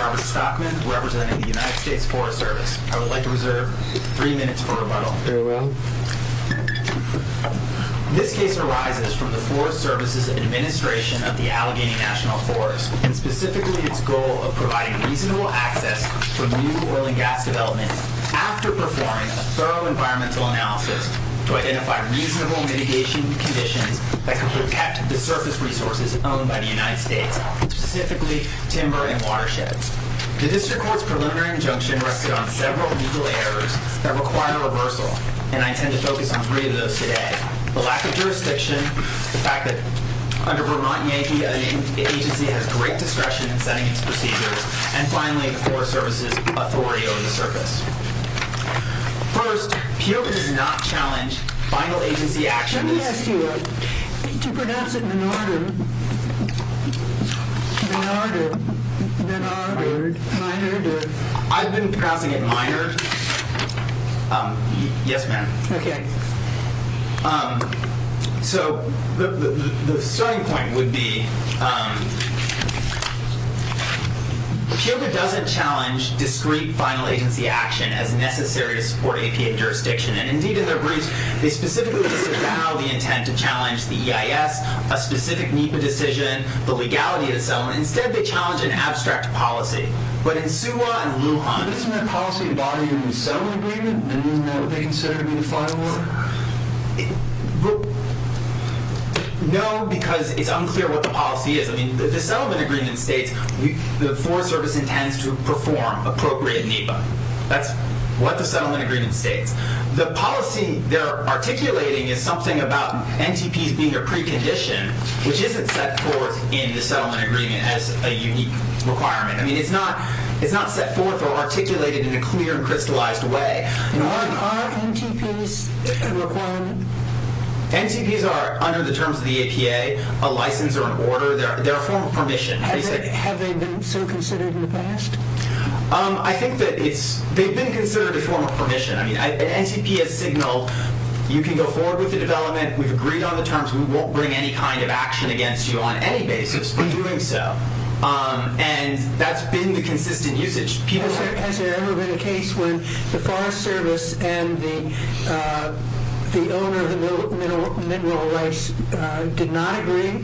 Robert Stockman representing the United States Forest Service. I would like to reserve three of those today. The lack of jurisdiction in this case arises from the Forest Service's administration of the Allegheny National Forest and specifically its goal of providing reasonable access for new oil and gas development after performing a thorough environmental analysis to identify reasonable mitigation conditions that could protect the surface resources owned by the United States, specifically timber and watersheds. The District Court's preliminary injunction rested on several legal errors that require a reversal, and I intend to focus on three of those today. The lack of jurisdiction, the fact that under Vermont, the agency has great discretion in setting its procedures, and finally, the Forest Service's authority over the surface. First, POA does not challenge final agency actions. Let me ask you, to pronounce it Minard, Minard, Minard, Minard? I've been pronouncing it Minard. Yes, ma'am. Okay. So, the starting point would be, POA doesn't challenge discrete final agency action as necessary to support APA jurisdiction, and indeed in their briefs, they specifically disavow the intent to challenge the EIS, a specific NEPA decision, the legality of the settlement. Instead, they challenge an abstract policy. But in Suwa and Lujan... Isn't that policy embodied in the settlement agreement? Isn't that what they consider to be the final order? No, because it's unclear what the policy is. I mean, the settlement agreement states the Forest Service intends to perform appropriate NEPA. That's what the settlement agreement states. What they're articulating is something about NTPs being a precondition, which isn't set forth in the settlement agreement as a unique requirement. I mean, it's not set forth or articulated in a clear and crystallized way. Are NTPs a requirement? NTPs are, under the terms of the APA, a license or an order. They're a form of permission. Have they been so considered in the past? I think that they've been considered a form of permission. I mean, an NTP has signaled, you can go forward with the development. We've agreed on the terms. We won't bring any kind of action against you on any basis for doing so. And that's been the consistent usage. Has there ever been a case when the Forest Service and the owner of the mineral rights did not agree?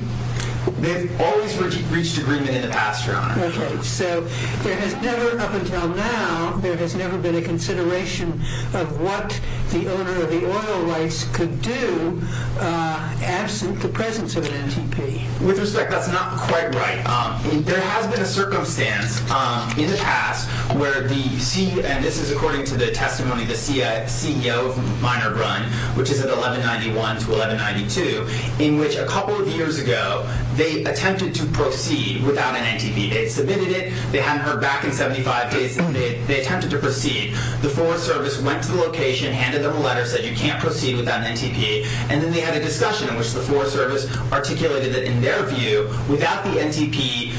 They've always reached agreement in the past, Your Honor. Okay. So there has never, up until now, there has never been a consideration of what the owner of the oil rights could do absent the presence of an NTP. With respect, that's not quite right. There has been a circumstance in the past where the CEO, and this is according to the testimony of the CEO of Miner Brun, which is at 1191 to 1192, in which a couple of years ago, they attempted to proceed without an NTP. They submitted it. They hadn't heard back in 75 days. They attempted to proceed. The Forest Service went to the location, handed them a letter, said you can't proceed without an NTP. And then they had a discussion in which the Forest Service articulated that in their view, without the NTP,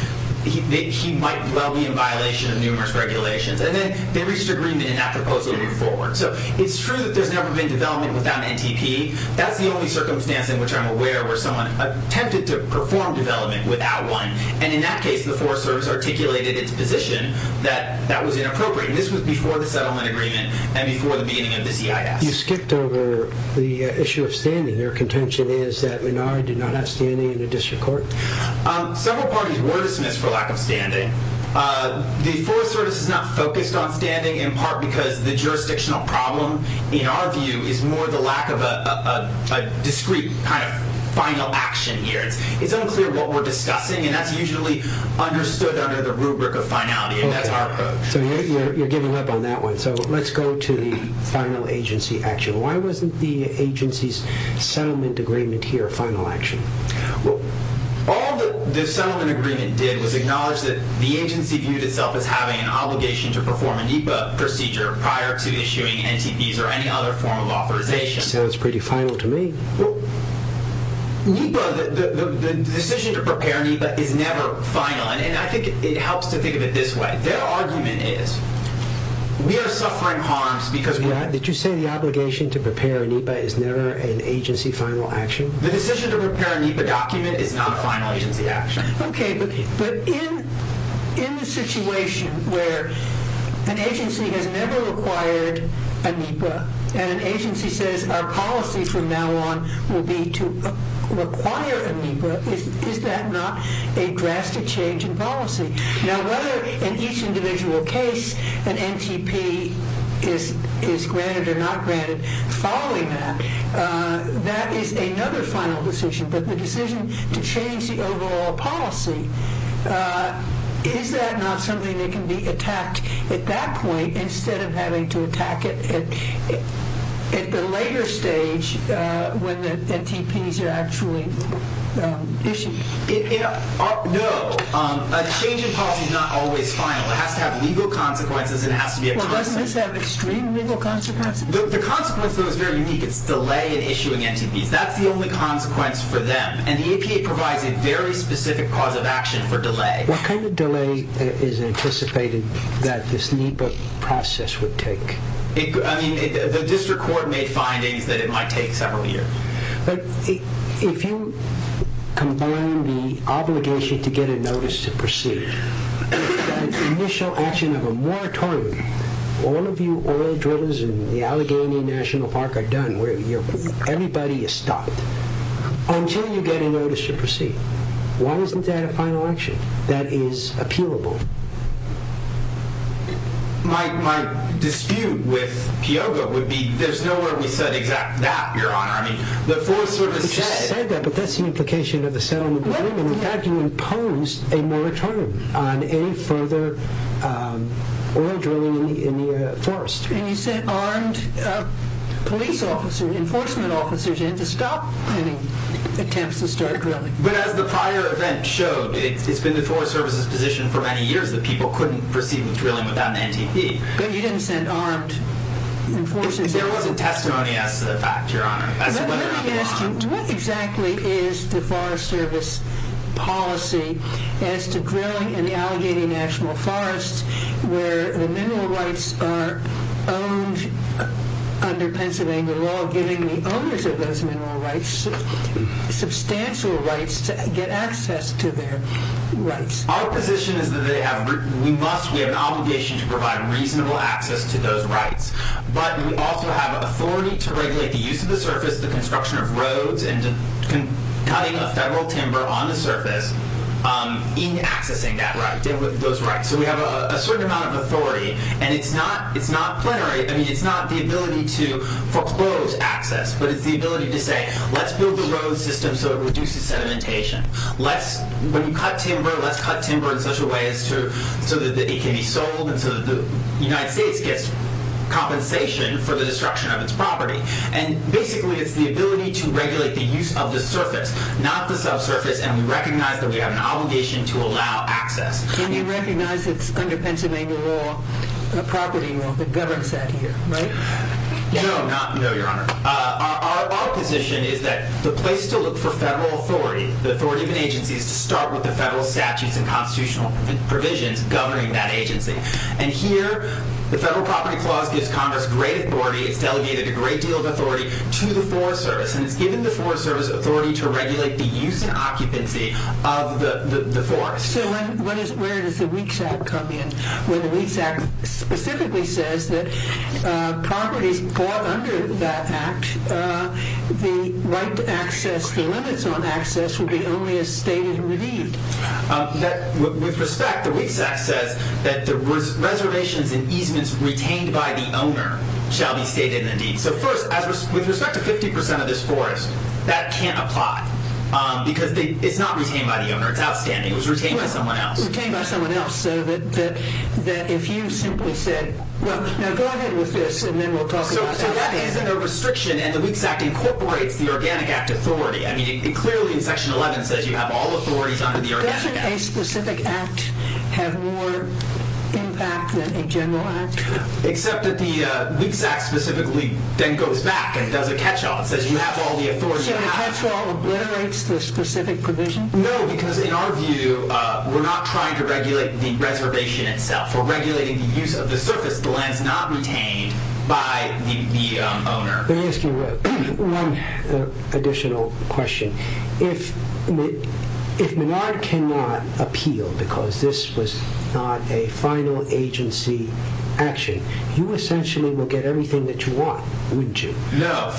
he might well be in violation of numerous regulations. And then they reached agreement in that proposal and moved forward. So it's true that there's never been development without an NTP. That's the only circumstance in which I'm aware where someone attempted to perform development without one. And in that case, the Forest Service articulated its position that that was inappropriate. This was before the settlement agreement and before the beginning of the CIS. You skipped over the issue of standing. Their contention is that Minari did not have standing in the district court? Several parties were dismissed for lack of standing. The Forest Service is not focused on standing in part because the jurisdictional problem, in our view, is more the lack of a discrete kind of final action here. It's unclear what we're discussing, and that's usually understood under the rubric of finality, and that's our approach. So you're giving up on that one. So let's go to the final agency action. Why wasn't the agency's settlement agreement here a final action? Well, all the settlement agreement did was acknowledge that the agency viewed itself as having an obligation to perform an EPA procedure prior to issuing NTPs or any other form of authorization. Sounds pretty final to me. The decision to prepare NEPA is never final, and I think it helps to think of it this way. Their argument is, we are suffering harms because... Did you say the obligation to prepare a NEPA is never an agency final action? The decision to prepare a NEPA document is not a final agency action. Okay, but in the situation where an agency has never required a NEPA, and an agency says our policy from now on will be to require a NEPA, is that not a drastic change in policy? Now, whether in each individual case an NTP is granted or not granted following that, that is another final decision. But the decision to change the overall policy, is that not something that can be attacked at that point instead of having to attack it at the later stage when the NTPs are actually issued? No. A change in policy is not always final. It has to have legal consequences. Well, doesn't this have extreme legal consequences? The consequence, though, is very unique. It's delay in issuing NTPs. That's the only consequence for them, and the EPA provides a very specific cause of action for delay. What kind of delay is anticipated that this NEPA process would take? The district court made findings that it might take several years. If you combine the obligation to get a notice to proceed, that initial action of a moratorium, all of you oil drillers in the Allegheny National Park are done, everybody is stopped, until you get a notice to proceed. Why isn't that a final action that is appealable? My dispute with Piogo would be, there's no way we said exactly that, Your Honor. You said that, but that's the implication of the settlement agreement. In fact, you imposed a moratorium on any further oil drilling in the forest. And you sent armed police officers, enforcement officers in to stop any attempts to start drilling. But as the prior event showed, it's been the Forest Service's position for many years that people couldn't proceed with drilling without an NTP. But you didn't send armed enforcers in. There wasn't testimony as to the fact, Your Honor. Let me ask you, what exactly is the Forest Service policy as to drilling in the Allegheny National Forest, where the mineral rights are owned under Pennsylvania law, giving the owners of those mineral rights substantial rights to get access to their rights? Our position is that we have an obligation to provide reasonable access to those rights. But we also have authority to regulate the use of the surface, the construction of roads, and cutting of federal timber on the surface in accessing those rights. So we have a certain amount of authority. And it's not plenary. I mean, it's not the ability to foreclose access. But it's the ability to say, let's build a road system so it reduces sedimentation. When you cut timber, let's cut timber in such a way so that it can be sold and so that the United States gets compensation for the destruction of its property. And basically, it's the ability to regulate the use of the surface, not the subsurface. And we recognize that we have an obligation to allow access. And you recognize it's under Pennsylvania law, property law, that governs that here, right? No, Your Honor. Our position is that the place to look for federal authority, the authority of an agency, is to start with the federal statutes and constitutional provisions governing that agency. And here, the Federal Property Clause gives Congress great authority. It's delegated a great deal of authority to the Forest Service. And it's given the Forest Service authority to regulate the use and occupancy of the forest. So where does the Weeks Act come in? Well, the Weeks Act specifically says that properties bought under that act, the right to access, the limits on access will be only as stated in the deed. With respect, the Weeks Act says that the reservations and easements retained by the owner shall be stated in the deed. So first, with respect to 50% of this forest, that can't apply because it's not retained by the owner. It's outstanding. It was retained by someone else. Retained by someone else so that if you simply said, well, now go ahead with this and then we'll talk about it. So that is a restriction, and the Weeks Act incorporates the Organic Act authority. I mean, it clearly, in Section 11, says you have all authorities under the Organic Act. Doesn't a specific act have more impact than a general act? Except that the Weeks Act specifically then goes back and does a catch-all. It says you have all the authority. So a catch-all obliterates the specific provision? No, because in our view, we're not trying to regulate the reservation itself. We're regulating the use of the surface lands not retained by the owner. Let me ask you one additional question. If Menard cannot appeal because this was not a final agency action, you essentially will get everything that you want, wouldn't you? No.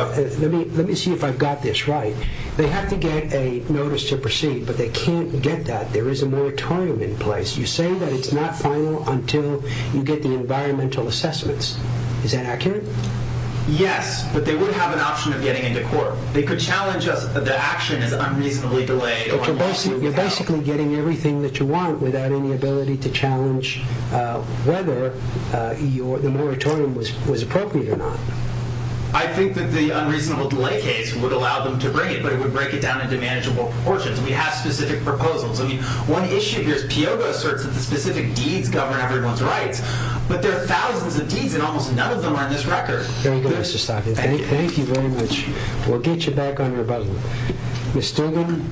Let me see if I've got this right. They have to get a notice to proceed, but they can't get that. There is a moratorium in place. You say that it's not final until you get the environmental assessments. Is that accurate? Yes, but they would have an option of getting into court. They could challenge us that the action is unreasonably delayed. But you're basically getting everything that you want without any ability to challenge whether the moratorium was appropriate or not. I think that the unreasonable delay case would allow them to bring it, but it would break it down into manageable proportions. We have specific proposals. One issue here is Piogo asserts that the specific deeds govern everyone's rights, but there are thousands of deeds, and almost none of them are in this record. Thank you, Mr. Stokes. Thank you very much. We'll get you back on your button. Ms. Stogan?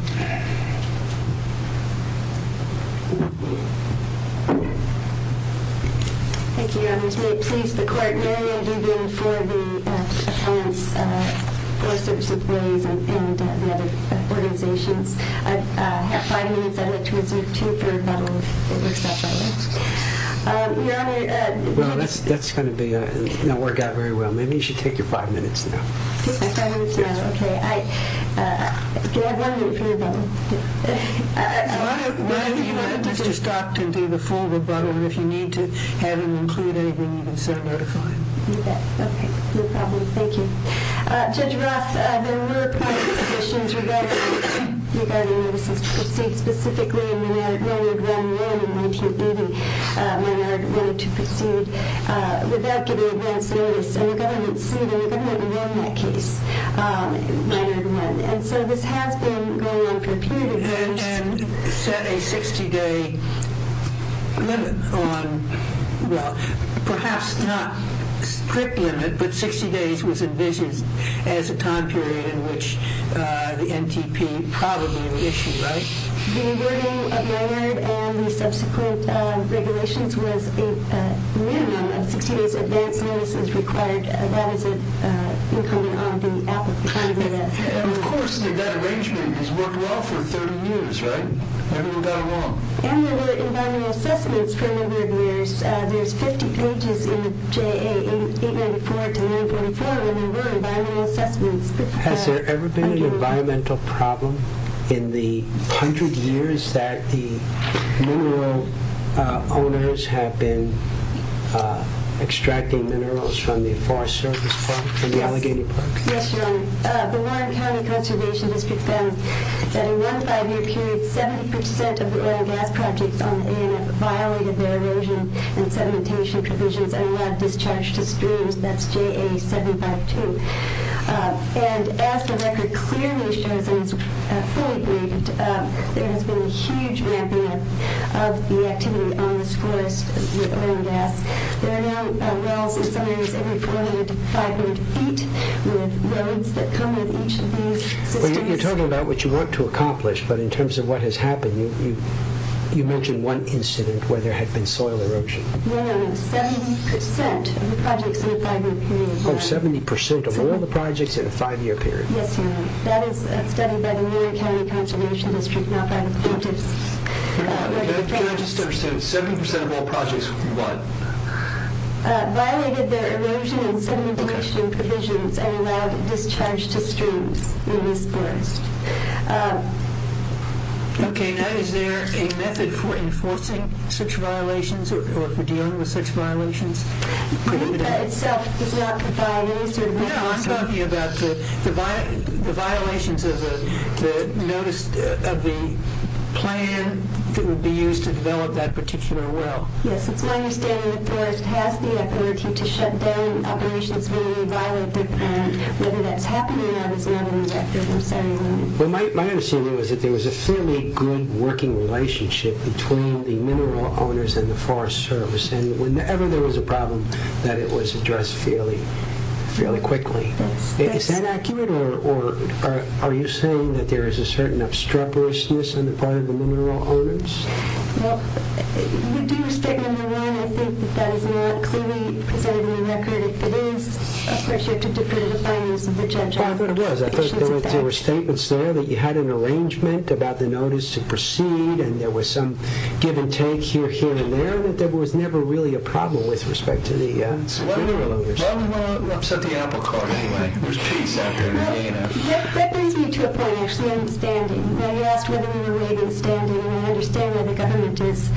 Thank you. Please, the court may begin for the appellants, for search employees, and the other organizations. I have five minutes. I'd like to reserve two for rebuttal, if it works out that way. Well, that's going to work out very well. Maybe you should take your five minutes now. My five minutes now? Okay. Can I have one minute for rebuttal? Why don't you let Mr. Stokes do the full rebuttal, and if you need to have him include anything, you can send a notifying. Okay. No problem. Thank you. Judge Roth, there were public positions regarding notices to proceed. Specifically, Maynard wanted one in 1980. Maynard wanted to proceed without getting advance notice, and the government sued, and the government won that case. Maynard won. And so this has been going on for a period of time. And set a 60-day limit on, well, perhaps not a strict limit, but 60 days was envisaged as a time period in which the NTP probably would issue, right? The wording of Maynard and the subsequent regulations was a minimum of 60 days advance notice is required. That is an incumbent on the applicant. And of course, that arrangement has worked well for 30 years, right? Everyone got along. And there were environmental assessments for a number of years. There's 50 pages in the JA, 894 to 944, and there were environmental assessments. Has there ever been an environmental problem in the hundred years that the mineral owners have been extracting minerals from the Forest Service Park, from the Allegheny Park? Yes, Your Honor. The Warren County Conservation District found that in one five-year period, 70% of the oil and gas projects on the AMF violated their erosion and sedimentation provisions and allowed discharge to streams. That's JA 752. And as the record clearly shows and is fully graded, there has been a huge ramping up of the activity on this forest with oil and gas. There are now wells in some areas every 400 to 500 feet with roads that come with each of these systems. Well, you're talking about what you want to accomplish, but in terms of what has happened, you mentioned one incident where there had been soil erosion. No, no, no. 70% of the projects in the five-year period. Oh, 70% of all the projects in a five-year period. Yes, Your Honor. That is a study by the Warren County Conservation District, not by the plaintiffs. Can I just understand, 70% of all projects what? Violated their erosion and sedimentation provisions and allowed discharge to streams in this forest. Okay, now is there a method for enforcing such violations or for dealing with such violations? The NEPA itself does not provide any sort of information. No, I'm talking about the violations of the notice of the plan that would be used to develop that particular well. Yes, it's my understanding the forest has the authority to shut down operations when they violate the plan. Whether that's happening or not is another matter. Well, my understanding was that there was a fairly good working relationship between the mineral owners and the Forest Service. And whenever there was a problem, that it was addressed fairly quickly. Is that accurate or are you saying that there is a certain obstreperousness on the part of the mineral owners? Well, we do respect, number one, I think that that is not clearly presented in the record. It is a pressure to defer the findings of the judge. Well, I thought it was. I thought there were statements there that you had an arrangement about the notice to proceed. And there was some give and take here, here, and there. But there was never really a problem with respect to the mineral owners. Well, I'm set the apple cart anyway. There's peace out there. That brings me to a point, actually. I'm standing. You asked whether we were weighed in standing. And I understand where the government is.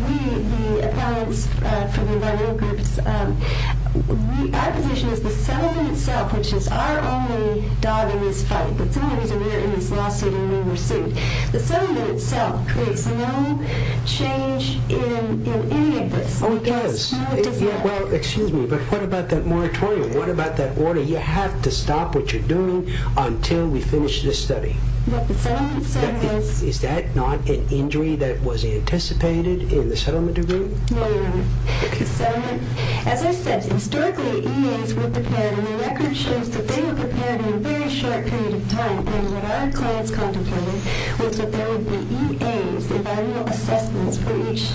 We, the appellants for the environmental groups, our position is the settlement itself, which is our only dog in this fight. That's the only reason we're in this lawsuit and we were sued. The settlement itself creates no change in any of this. Oh, it does. No, it does not. Well, excuse me, but what about that moratorium? What about that order? You have to stop what you're doing until we finish this study. What the settlement said was... Is that not an injury that was anticipated in the settlement agreement? No, you're right. The settlement, as I said, historically, EAs with the pan, and the record shows that they were prepared in a very short period of time. And what our clients contemplated was that there would be EAs, environmental assessments, for each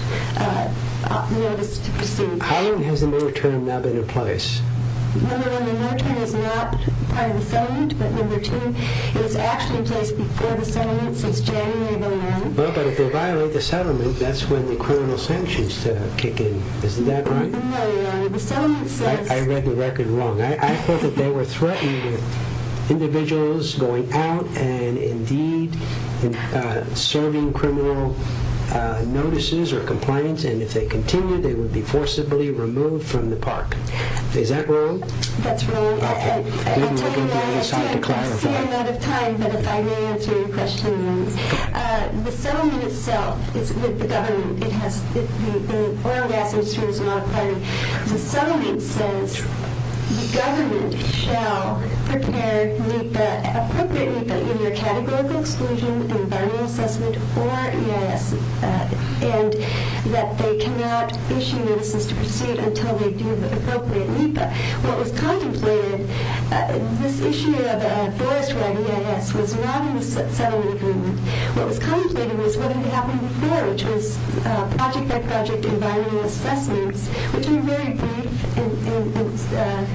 notice to proceed. How long has the moratorium not been in place? Number one, the moratorium is not part of the settlement. But number two, it was actually in place before the settlement since January of 2001. Well, but if they violate the settlement, that's when the criminal sanctions kick in. Isn't that right? No, Your Honor. The settlement says... I read the record wrong. I thought that they were threatened with individuals going out and, indeed, serving criminal notices or compliance. And if they continue, they would be forcibly removed from the park. Is that wrong? That's wrong. I'll tell you... Maybe we're going the other side to clarify. I'm running out of time, but if I may answer your question... The settlement itself is with the government. The oil and gas industry is not a part of it. The settlement says the government shall prepare NEPA, appropriate NEPA, in their categorical exclusion, environmental assessment, or EIS, and that they cannot issue notices to proceed until they do the appropriate NEPA. What was contemplated, this issue of a forest-wide EIS was not in the settlement agreement. What was contemplated was what had happened before, which was project-by-project environmental assessments, which were very brief and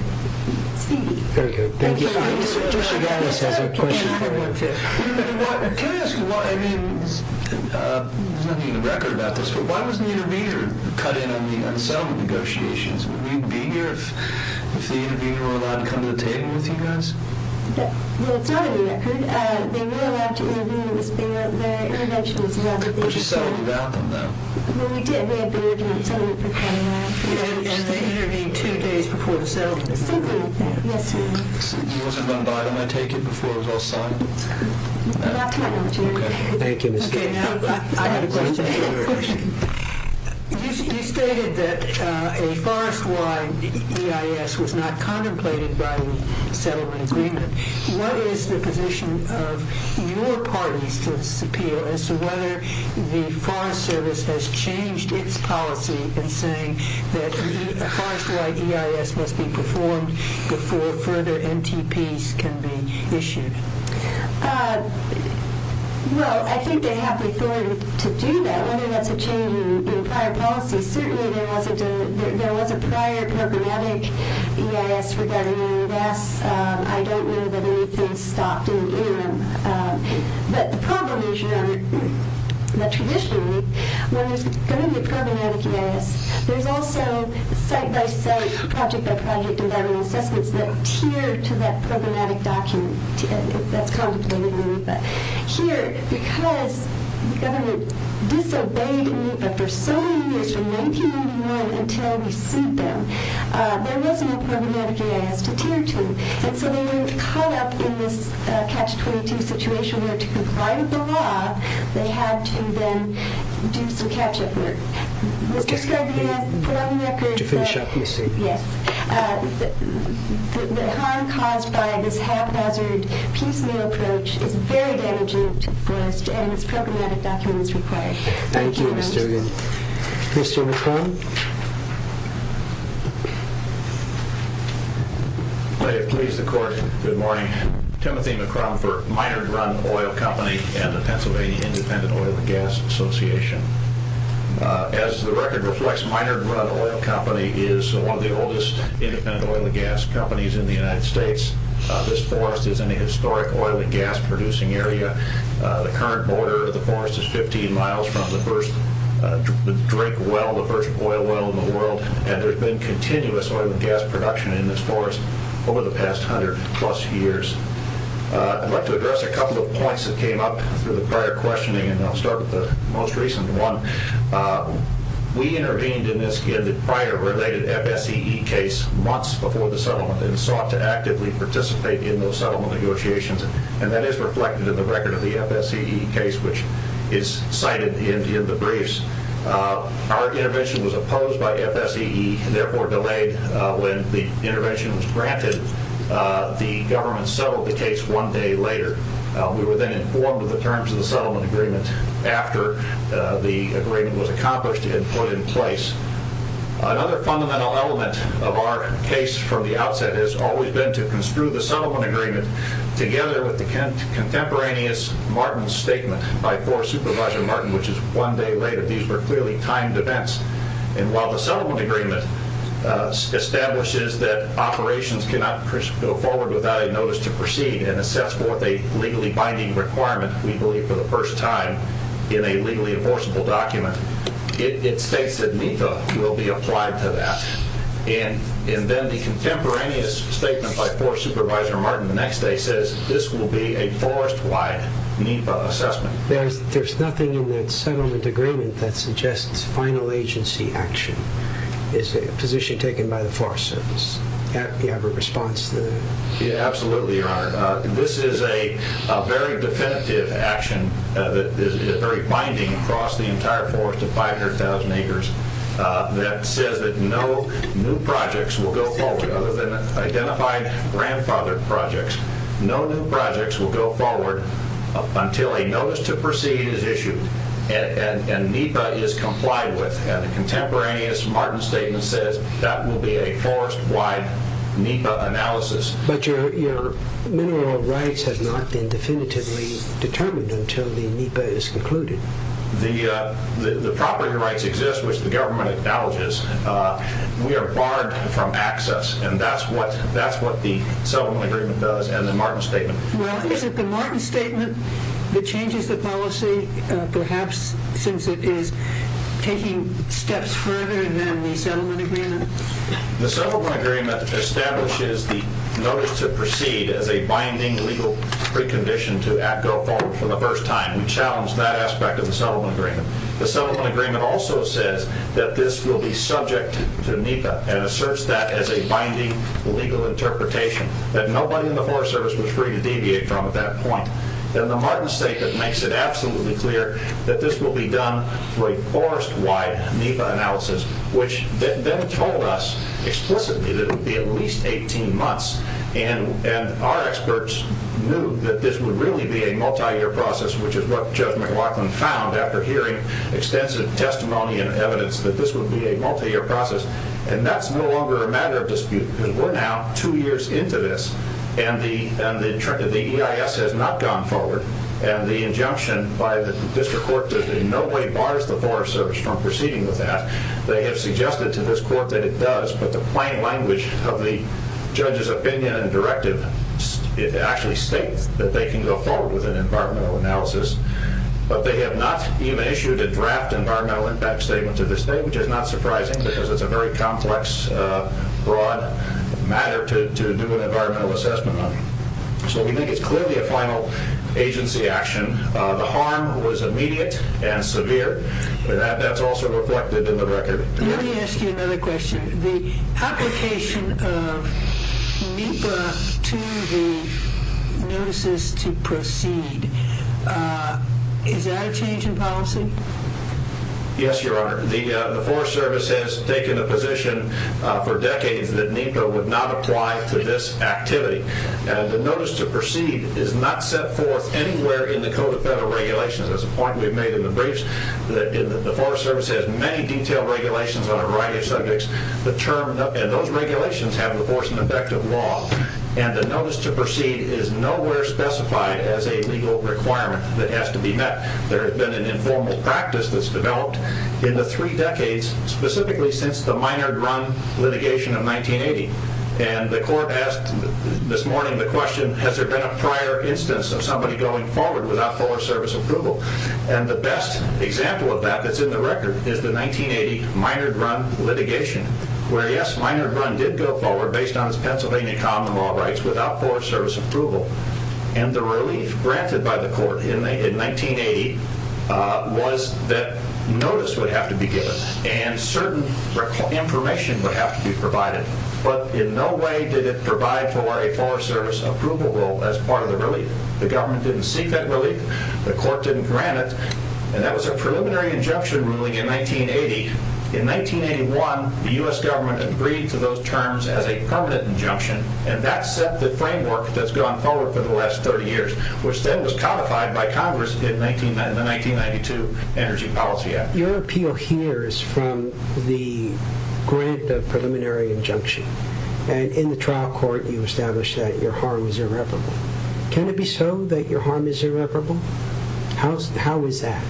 speedy. Very good. Thank you. Mr. Gattas has a question for you. Can I ask, I mean, there's nothing in the record about this, but why wasn't the intervener cut in on the unsettlement negotiations? Would we be here if the intervener were allowed to come to the table with you guys? Well, it's not in the record. They were allowed to intervene. It was their intervention. But you settled without them, though. Well, we did have their intervention. And they intervened two days before the settlement? Something like that. Yes, sir. You wasn't run by them, I take it, before it was all signed? Not to my knowledge, yes. Okay. Thank you, Mr. Gattas. Okay, now I have a question. You stated that a forest-wide EIS was not contemplated by the settlement agreement. What is the position of your parties to this appeal as to whether the Forest Service has changed its policy in saying that a forest-wide EIS must be performed before further NTPs can be issued? Well, I think they have the authority to do that. Whether that's a change in prior policy, certainly there was a prior programmatic EIS for WVS. I don't know that anything stopped in the interim. But the problem is, your Honor, that traditionally, when there's going to be a programmatic EIS, there's also site-by-site, project-by-project environmental assessments that tier to that programmatic document that's contemplated in the RIPA. Here, because the government disobeyed the RIPA for so many years, from 1991 until we sued them, there wasn't a programmatic EIS to tier to. And so they were caught up in this Catch-22 situation where, to comply with the law, they had to then do some catch-up work. Mr. Scobie, for the record, the harm caused by this haphazard piecemeal approach is very damaging to the forest, and this programmatic document is required. Thank you, Ms. Duggan. Mr. McCrum. May it please the Court, good morning. Timothy McCrum for Minard Run Oil Company and the Pennsylvania Independent Oil and Gas Association. As the record reflects, Minard Run Oil Company is one of the oldest independent oil and gas companies in the United States. This forest is in a historic oil and gas-producing area. The current border of the forest is 15 miles from the first drink well, the first oil well in the world, and there's been continuous oil and gas production in this forest over the past 100-plus years. I'd like to address a couple of points that came up through the prior questioning, and I'll start with the most recent one. We intervened in this prior related FSEE case months before the settlement and sought to actively participate in those settlement negotiations, and that is reflected in the record of the FSEE case, which is cited in the briefs. Our intervention was opposed by FSEE and therefore delayed. When the intervention was granted, the government settled the case one day later. We were then informed of the terms of the settlement agreement after the agreement was accomplished and put in place. Another fundamental element of our case from the outset has always been to construe the settlement agreement together with the contemporaneous Martin Statement by Forest Supervisor Martin, which is one day later. These were clearly timed events. And while the settlement agreement establishes that operations cannot go forward without a notice to proceed and it sets forth a legally binding requirement, we believe, for the first time in a legally enforceable document, it states that NEPA will be applied to that. And then the contemporaneous statement by Forest Supervisor Martin the next day says, this will be a forest-wide NEPA assessment. There's nothing in that settlement agreement that suggests final agency action. It's a position taken by the Forest Service. Absolutely, Your Honor. This is a very definitive action that is very binding across the entire forest of 500,000 acres that says that no new projects will go forward other than identified grandfathered projects. No new projects will go forward until a notice to proceed is issued and NEPA is complied with. And the contemporaneous Martin Statement says that will be a forest-wide NEPA analysis. But your mineral rights have not been definitively determined until the NEPA is concluded. The property rights exist, which the government acknowledges. We are barred from access, and that's what the settlement agreement does and the Martin Statement. Well, is it the Martin Statement that changes the policy, perhaps, since it is taking steps further than the settlement agreement? The settlement agreement establishes the notice to proceed as a binding legal precondition to act go forward for the first time. We challenge that aspect of the settlement agreement. The settlement agreement also says that this will be subject to NEPA and asserts that as a binding legal interpretation that nobody in the Forest Service was free to deviate from at that point. And the Martin Statement makes it absolutely clear that this will be done through a forest-wide NEPA analysis, which then told us explicitly that it would be at least 18 months. And our experts knew that this would really be a multi-year process, which is what Judge McLaughlin found after hearing extensive testimony and evidence, that this would be a multi-year process. And that's no longer a matter of dispute, because we're now two years into this, and the EIS has not gone forward, and the injunction by the district court that in no way bars the Forest Service from proceeding with that, they have suggested to this court that it does, but the plain language of the judge's opinion and directive actually states that they can go forward with an environmental analysis. But they have not even issued a draft environmental impact statement to this day, which is not surprising because it's a very complex, broad matter to do an environmental assessment on. So we think it's clearly a final agency action. The harm was immediate and severe, but that's also reflected in the record. Let me ask you another question. The application of NEPA to the notices to proceed, is that a change in policy? Yes, Your Honor. The Forest Service has taken a position for decades that NEPA would not apply to this activity, and the notice to proceed is not set forth anywhere in the Code of Federal Regulations. That's a point we've made in the briefs. The Forest Service has many detailed regulations on a variety of subjects, and those regulations have the force and effect of law, and the notice to proceed is nowhere specified as a legal requirement that has to be met. There has been an informal practice that's developed in the three decades, specifically since the Minard run litigation of 1980, and the court asked this morning the question, has there been a prior instance of somebody going forward without Forest Service approval? And the best example of that that's in the record is the 1980 Minard run litigation, where yes, Minard run did go forward based on its Pennsylvania common law rights without Forest Service approval, and the relief granted by the court in 1980 was that notice would have to be given, and certain information would have to be provided, but in no way did it provide for a Forest Service approval as part of the relief. The government didn't seek that relief. The court didn't grant it, and that was a preliminary injunction ruling in 1980. In 1981, the U.S. government agreed to those terms as a permanent injunction, and that set the framework that's gone forward for the last 30 years, which then was codified by Congress in the 1992 Energy Policy Act. Your appeal here is from the grant of preliminary injunction, and in the trial court you established that your harm is irreparable. Can it be so that your harm is irreparable? How is that?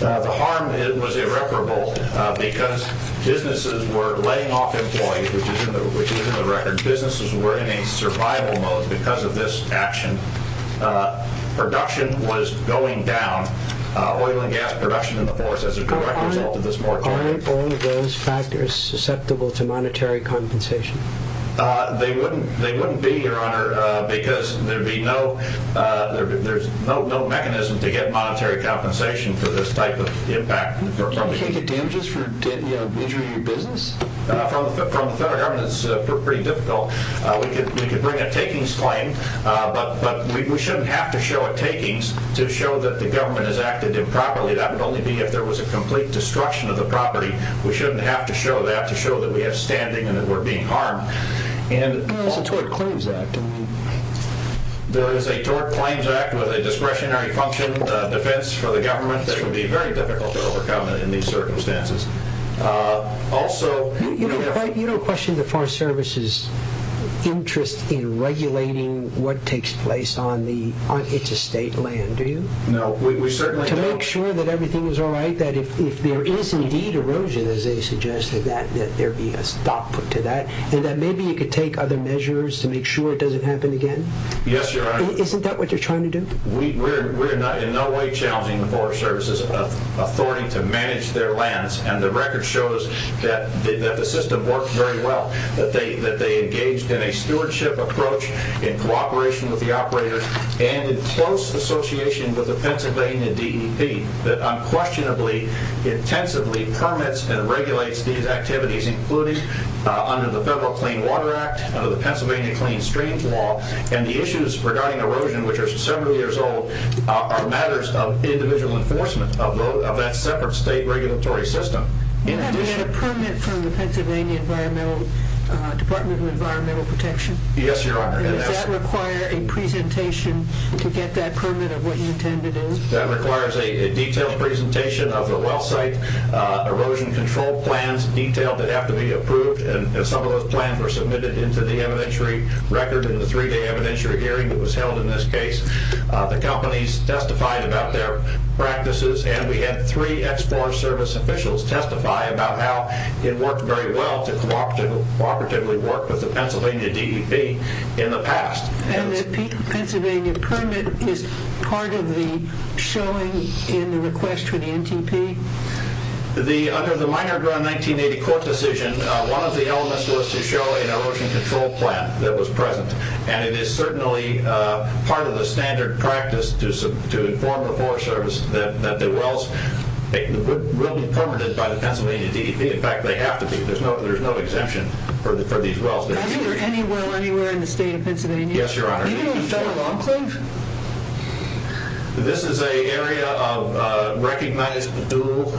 The harm was irreparable because businesses were laying off employees, which is in the record. Businesses were in a survival mode because of this action. Production was going down, oil and gas production in the forest, as a direct result of this moratorium. Are all of those factors susceptible to monetary compensation? They wouldn't be, Your Honor, because there's no mechanism to get monetary compensation for this type of impact. You can't get damages for injuring your business? From the federal government, it's pretty difficult. We could bring a takings claim, but we shouldn't have to show a takings to show that the government has acted improperly. That would only be if there was a complete destruction of the property. We shouldn't have to show that to show that we have standing and that we're being harmed. There is a Tort Claims Act. There is a Tort Claims Act with a discretionary function defense for the government that would be very difficult to overcome in these circumstances. You don't question the Forest Service's interest in regulating what takes place on its estate land, do you? No, we certainly don't. To make sure that everything is all right, that if there is indeed erosion, as they suggested, that there be a stop to that, and that maybe you could take other measures to make sure it doesn't happen again? Yes, Your Honor. Isn't that what you're trying to do? We're in no way challenging the Forest Service's authority to manage their lands, and the record shows that the system works very well, that they engaged in a stewardship approach in cooperation with the operator and in close association with the Pennsylvania DEP that unquestionably, intensively permits and regulates these activities, including under the Federal Clean Water Act, under the Pennsylvania Clean Streams Law, and the issues regarding erosion, which are several years old, are matters of individual enforcement of that separate state regulatory system. You haven't had a permit from the Pennsylvania Department of Environmental Protection? Yes, Your Honor. Does that require a presentation to get that permit of what you intend to do? That requires a detailed presentation of the well site erosion control plans, detailed that have to be approved, and some of those plans were submitted into the evidentiary record in the three-day evidentiary hearing that was held in this case. The companies testified about their practices, and we had three Explorer Service officials testify about how it worked very well to cooperatively work with the Pennsylvania DEP in the past. And the Pennsylvania permit is part of the showing in the request for the NTP? Under the Minor Ground 1980 court decision, one of the elements was to show an erosion control plan that was present, and it is certainly part of the standard practice to inform the Forest Service that the wells will be permitted by the Pennsylvania DEP. In fact, they have to be. There's no exemption for these wells. Has there been any well anywhere in the state of Pennsylvania? Yes, Your Honor. Even in Federal Enclave? This is an area of recognized dual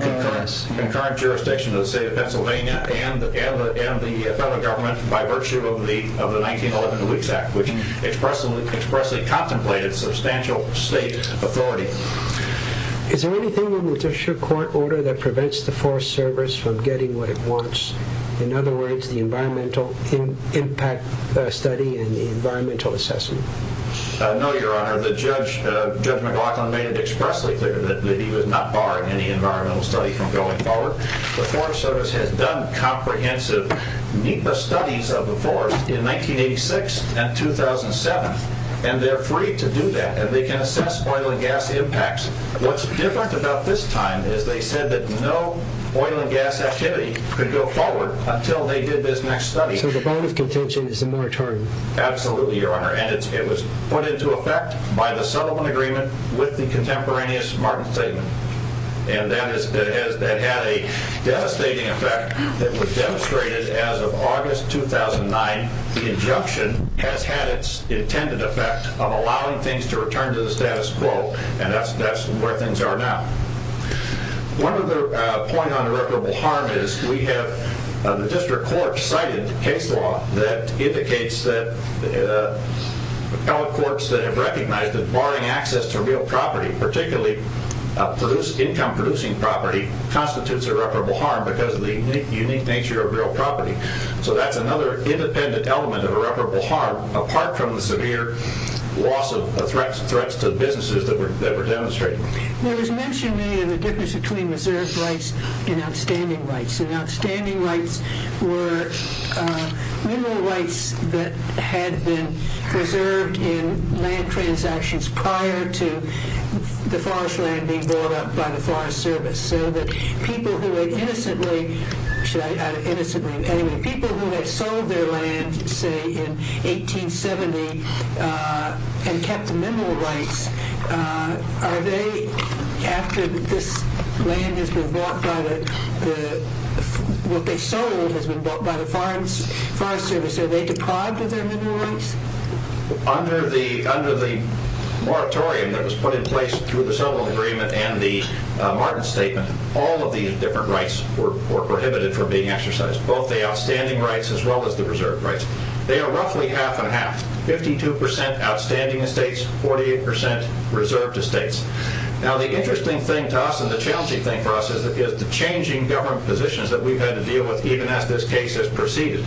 concurrence in the current jurisdiction of the state of Pennsylvania and the Federal Government by virtue of the 1911 Leaks Act, which expressly contemplated substantial state authority. Is there anything in the Judicial Court order that prevents the Forest Service from getting what it wants? In other words, the environmental impact study and the environmental assessment? No, Your Honor. Judge McLaughlin made it expressly clear that he was not barring any environmental study from going forward. The Forest Service has done comprehensive NEPA studies of the forest in 1986 and 2007, and they're free to do that, and they can assess oil and gas impacts. What's different about this time is they said that no oil and gas activity could go forward until they did this next study. So the bond of contention is a moratorium? Absolutely, Your Honor, and it was put into effect by the settlement agreement with the contemporaneous Martin Statement, and that had a devastating effect that was demonstrated as of August 2009. The injunction has had its intended effect of allowing things to return to the status quo, and that's where things are now. One other point on irreparable harm is we have the District Court cited case law that indicates that all courts that have recognized that barring access to real property, particularly income-producing property, constitutes irreparable harm because of the unique nature of real property. So that's another independent element of irreparable harm, apart from the severe loss of threats to businesses that were demonstrated. There was mention earlier of the difference between reserved rights and outstanding rights, and outstanding rights were mineral rights that had been preserved in land transactions prior to the forest land being bought up by the Forest Service. So that people who had innocently, should I add innocently? Anyway, people who had sold their land, say, in 1870 and kept the mineral rights, are they, after this land has been bought by the, what they sold has been bought by the Forest Service, are they deprived of their mineral rights? Under the moratorium that was put in place through the Solon Agreement and the Martin Statement, all of these different rights were prohibited from being exercised, both the outstanding rights as well as the reserved rights. They are roughly half and half, 52% outstanding estates, 48% reserved estates. Now the interesting thing to us, and the challenging thing for us, is the changing government positions that we've had to deal with even as this case has proceeded.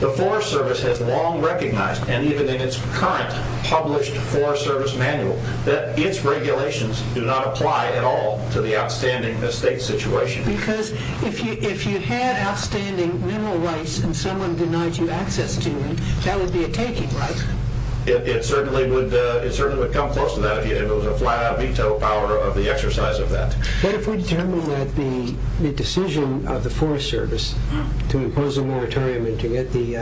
The Forest Service has long recognized, and even in its current published Forest Service manual, that its regulations do not apply at all to the outstanding estate situation. Because if you had outstanding mineral rights and someone denied you access to them, that would be a taking, right? It certainly would come close to that if it was a flat-out veto power of the exercise of that. But if we determine that the decision of the Forest Service to impose a moratorium and to get the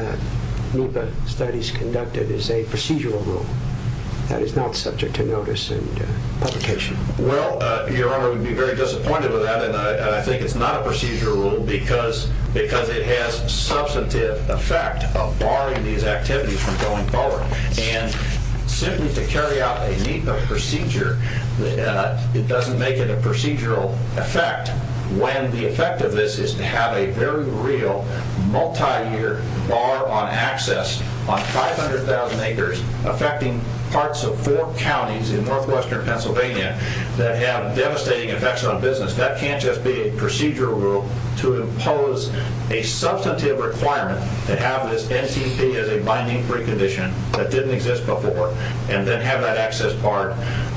NEPA studies conducted is a procedural rule, that is not subject to notice and publication? Well, Your Honor, we'd be very disappointed with that, and I think it's not a procedural rule because it has substantive effect of barring these activities from going forward. And simply to carry out a NEPA procedure, it doesn't make it a procedural effect, when the effect of this is to have a very real, multi-year bar on access on 500,000 acres affecting parts of four counties in northwestern Pennsylvania that have devastating effects on business. That can't just be a procedural rule to impose a substantive requirement to have this NTP as a binding precondition that didn't exist before and then have that access barred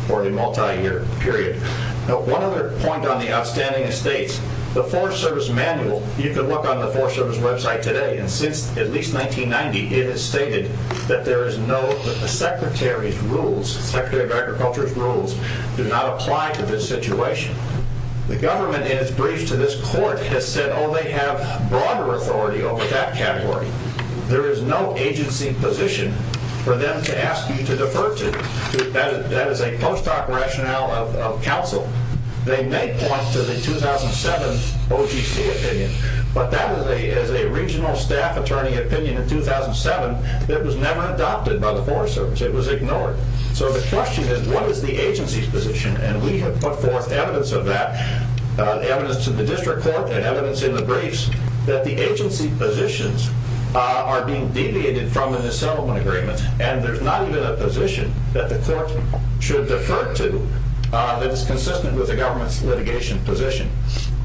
for a multi-year period. One other point on the outstanding estates. The Forest Service manual, you can look on the Forest Service website today, and since at least 1990, it has stated that the Secretary of Agriculture's rules do not apply to this situation. The government, in its brief to this court, has said, oh, they have broader authority over that category. There is no agency position for them to ask you to defer to. That is a post-doc rationale of counsel. They may point to the 2007 OGC opinion, but that is a regional staff attorney opinion in 2007 that was never adopted by the Forest Service. It was ignored. So the question is, what is the agency's position? And we have put forth evidence of that, evidence to the district court and evidence in the briefs, that the agency positions are being deviated from in the settlement agreement, and there's not even a position that the court should defer to that is consistent with the government's litigation position.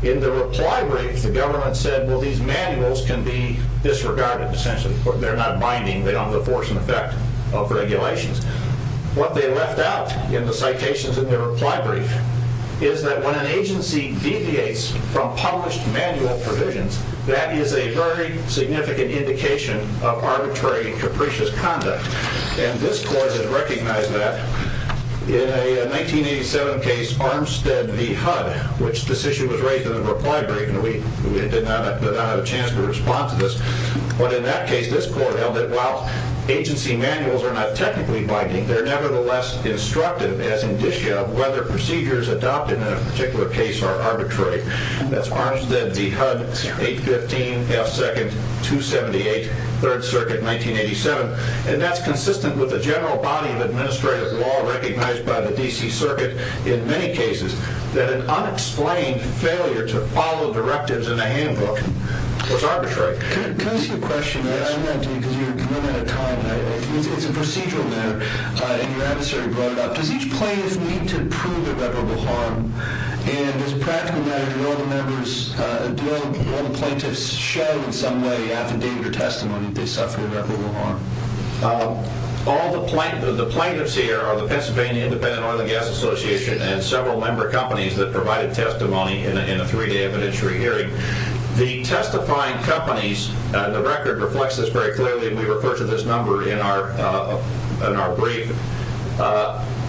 In the reply brief, the government said, well, these manuals can be disregarded, essentially. They're not binding. They don't have the force and effect of regulations. What they left out in the citations in their reply brief is that when an agency deviates from published manual provisions, that is a very significant indication of arbitrary and capricious conduct. And this court has recognized that. In a 1987 case, Armstead v. HUD, which this issue was raised in the reply brief, and we did not have a chance to respond to this, but in that case, this court held that, while agency manuals are not technically binding, they're nevertheless instructive as indicia of whether procedures adopted in a particular case are arbitrary. That's Armstead v. HUD, 815 F. 2nd, 278, 3rd Circuit, 1987. And that's consistent with the general body of administrative law recognized by the D.C. Circuit in many cases, that an unexplained failure to follow directives in a handbook was arbitrary. Can I ask you a question? Yes. I don't want to take your time. It's a procedural matter, and your answer brought it up. Does each plaintiff need to prove irreparable harm? And as a practical matter, do all the plaintiffs show in some way, affidavit, or testimony that they suffered irreparable harm? All the plaintiffs here are the Pennsylvania Independent Oil and Gas Association and several member companies that provided testimony in a three-day evidentiary hearing. The testifying companies, the record reflects this very clearly, we refer to this number in our brief,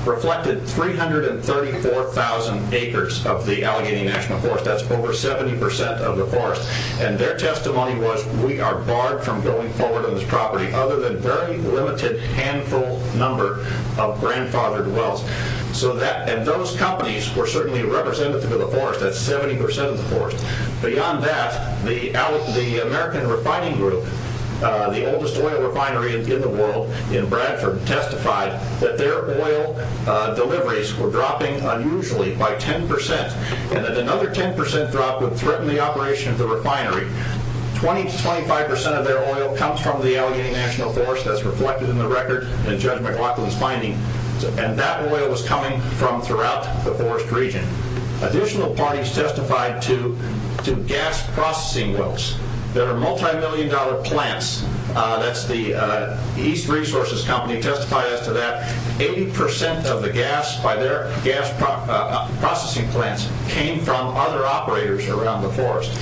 reflected 334,000 acres of the Allegheny National Forest. That's over 70% of the forest. And their testimony was, we are barred from going forward on this property other than a very limited handful number of grandfathered wells. And those companies were certainly representative of the forest. That's 70% of the forest. Beyond that, the American Refining Group, the oldest oil refinery in the world in Bradford, testified that their oil deliveries were dropping unusually by 10%, and that another 10% drop would threaten the operation of the refinery. 20% to 25% of their oil comes from the Allegheny National Forest. That's reflected in the record in Judge McLaughlin's finding. And that oil was coming from throughout the forest region. Additional parties testified to gas processing wells that are multimillion-dollar plants. That's the East Resources Company testifies to that. 80% of the gas by their gas processing plants came from other operators around the forest.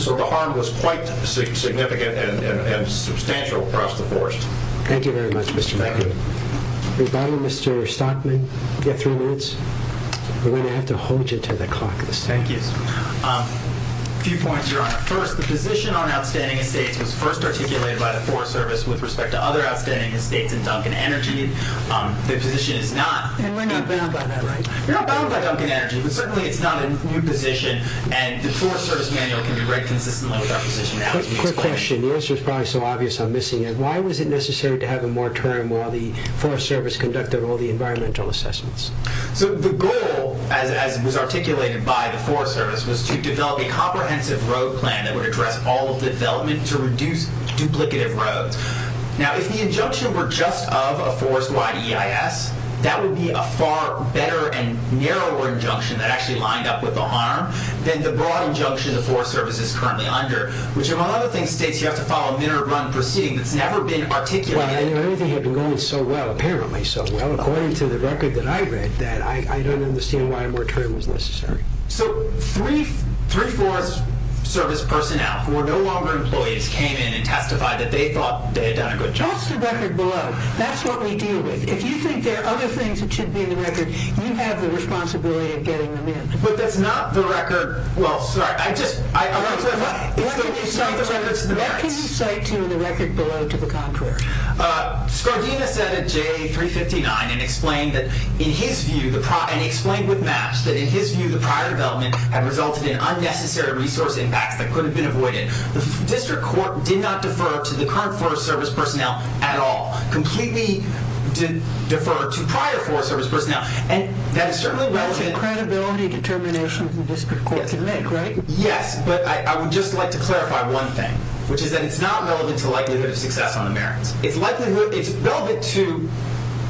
So the harm was quite significant and substantial across the forest. Thank you very much, Mr. McLaughlin. Rebuttal, Mr. Stockman? You have three minutes. We're going to have to hold you to the clock. Thank you. A few points, Your Honor. First, the position on outstanding estates was first articulated by the Forest Service with respect to other outstanding estates in Duncan Energy. The position is not— And we're not bound by that, right? We're not bound by Duncan Energy, but certainly it's not a new position, and the Forest Service manual can be read consistently with our position now. Quick question. The answer is probably so obvious I'm missing it. Why was it necessary to have a moratorium while the Forest Service conducted all the environmental assessments? So the goal, as was articulated by the Forest Service, was to develop a comprehensive road plan that would address all of the development to reduce duplicative roads. Now, if the injunction were just of a forest-wide EIS, that would be a far better and narrower injunction that actually lined up with the harm than the broad injunction the Forest Service is currently under, which, among other things, states you have to follow a minimum proceeding that's never been articulated. Well, everything had been going so well, apparently so well, according to the record that I read, that I don't understand why a moratorium was necessary. So three Forest Service personnel who are no longer employees came in and testified that they thought they had done a good job. That's the record below. That's what we deal with. If you think there are other things that should be in the record, you have the responsibility of getting them in. But that's not the record—well, sorry, I just— What can you cite to the record below to the contrary? Scardina said at J359 and explained that, in his view, and he explained with maps that, in his view, the prior development had resulted in unnecessary resource impacts that could have been avoided. The District Court did not defer to the current Forest Service personnel at all, completely deferred to prior Forest Service personnel. And that is certainly— That's a credibility determination the District Court can make, right? Yes, but I would just like to clarify one thing, which is that it's not relevant to likelihood of success on the merits. It's likelihood—it's relevant to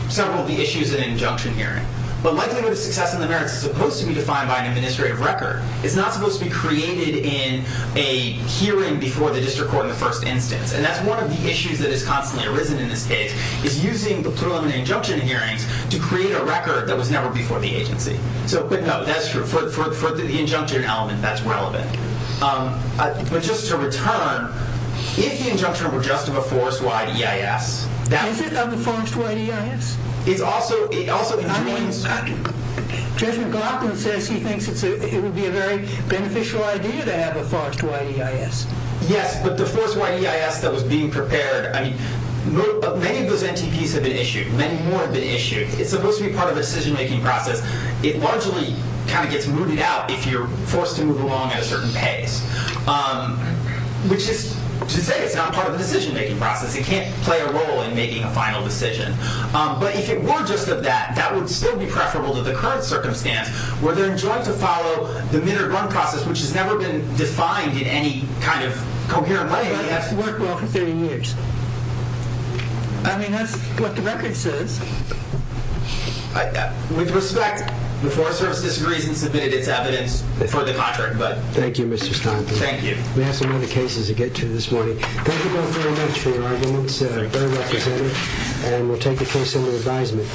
several of the issues in an injunction hearing. But likelihood of success on the merits is supposed to be defined by an administrative record. It's not supposed to be created in a hearing before the District Court in the first instance. And that's one of the issues that has constantly arisen in this case, is using the preliminary injunction hearings to create a record that was never before the agency. So, a quick note, that's true. For the injunction element, that's relevant. But just to return, if the injunction were just of a forest wide EIS— Is it of a forest wide EIS? It's also—it also joins— Judge McLaughlin says he thinks it would be a very beneficial idea to have a forest wide EIS. Yes, but the forest wide EIS that was being prepared— I mean, many of those NTPs have been issued. Many more have been issued. It's supposed to be part of the decision making process. It largely kind of gets mooted out if you're forced to move along at a certain pace. Which is to say it's not part of the decision making process. It can't play a role in making a final decision. But if it were just of that, that would still be preferable to the current circumstance where they're enjoined to follow the minute run process, which has never been defined in any kind of coherent way. But it has to work well for 13 years. I mean, that's what the record says. With respect, the Forest Service disagrees and submitted its evidence for the contract. Thank you, Mr. Stoneman. Thank you. We have some other cases to get to this morning. Thank you both very much for your arguments. Very representative. And we'll take a case under advisement.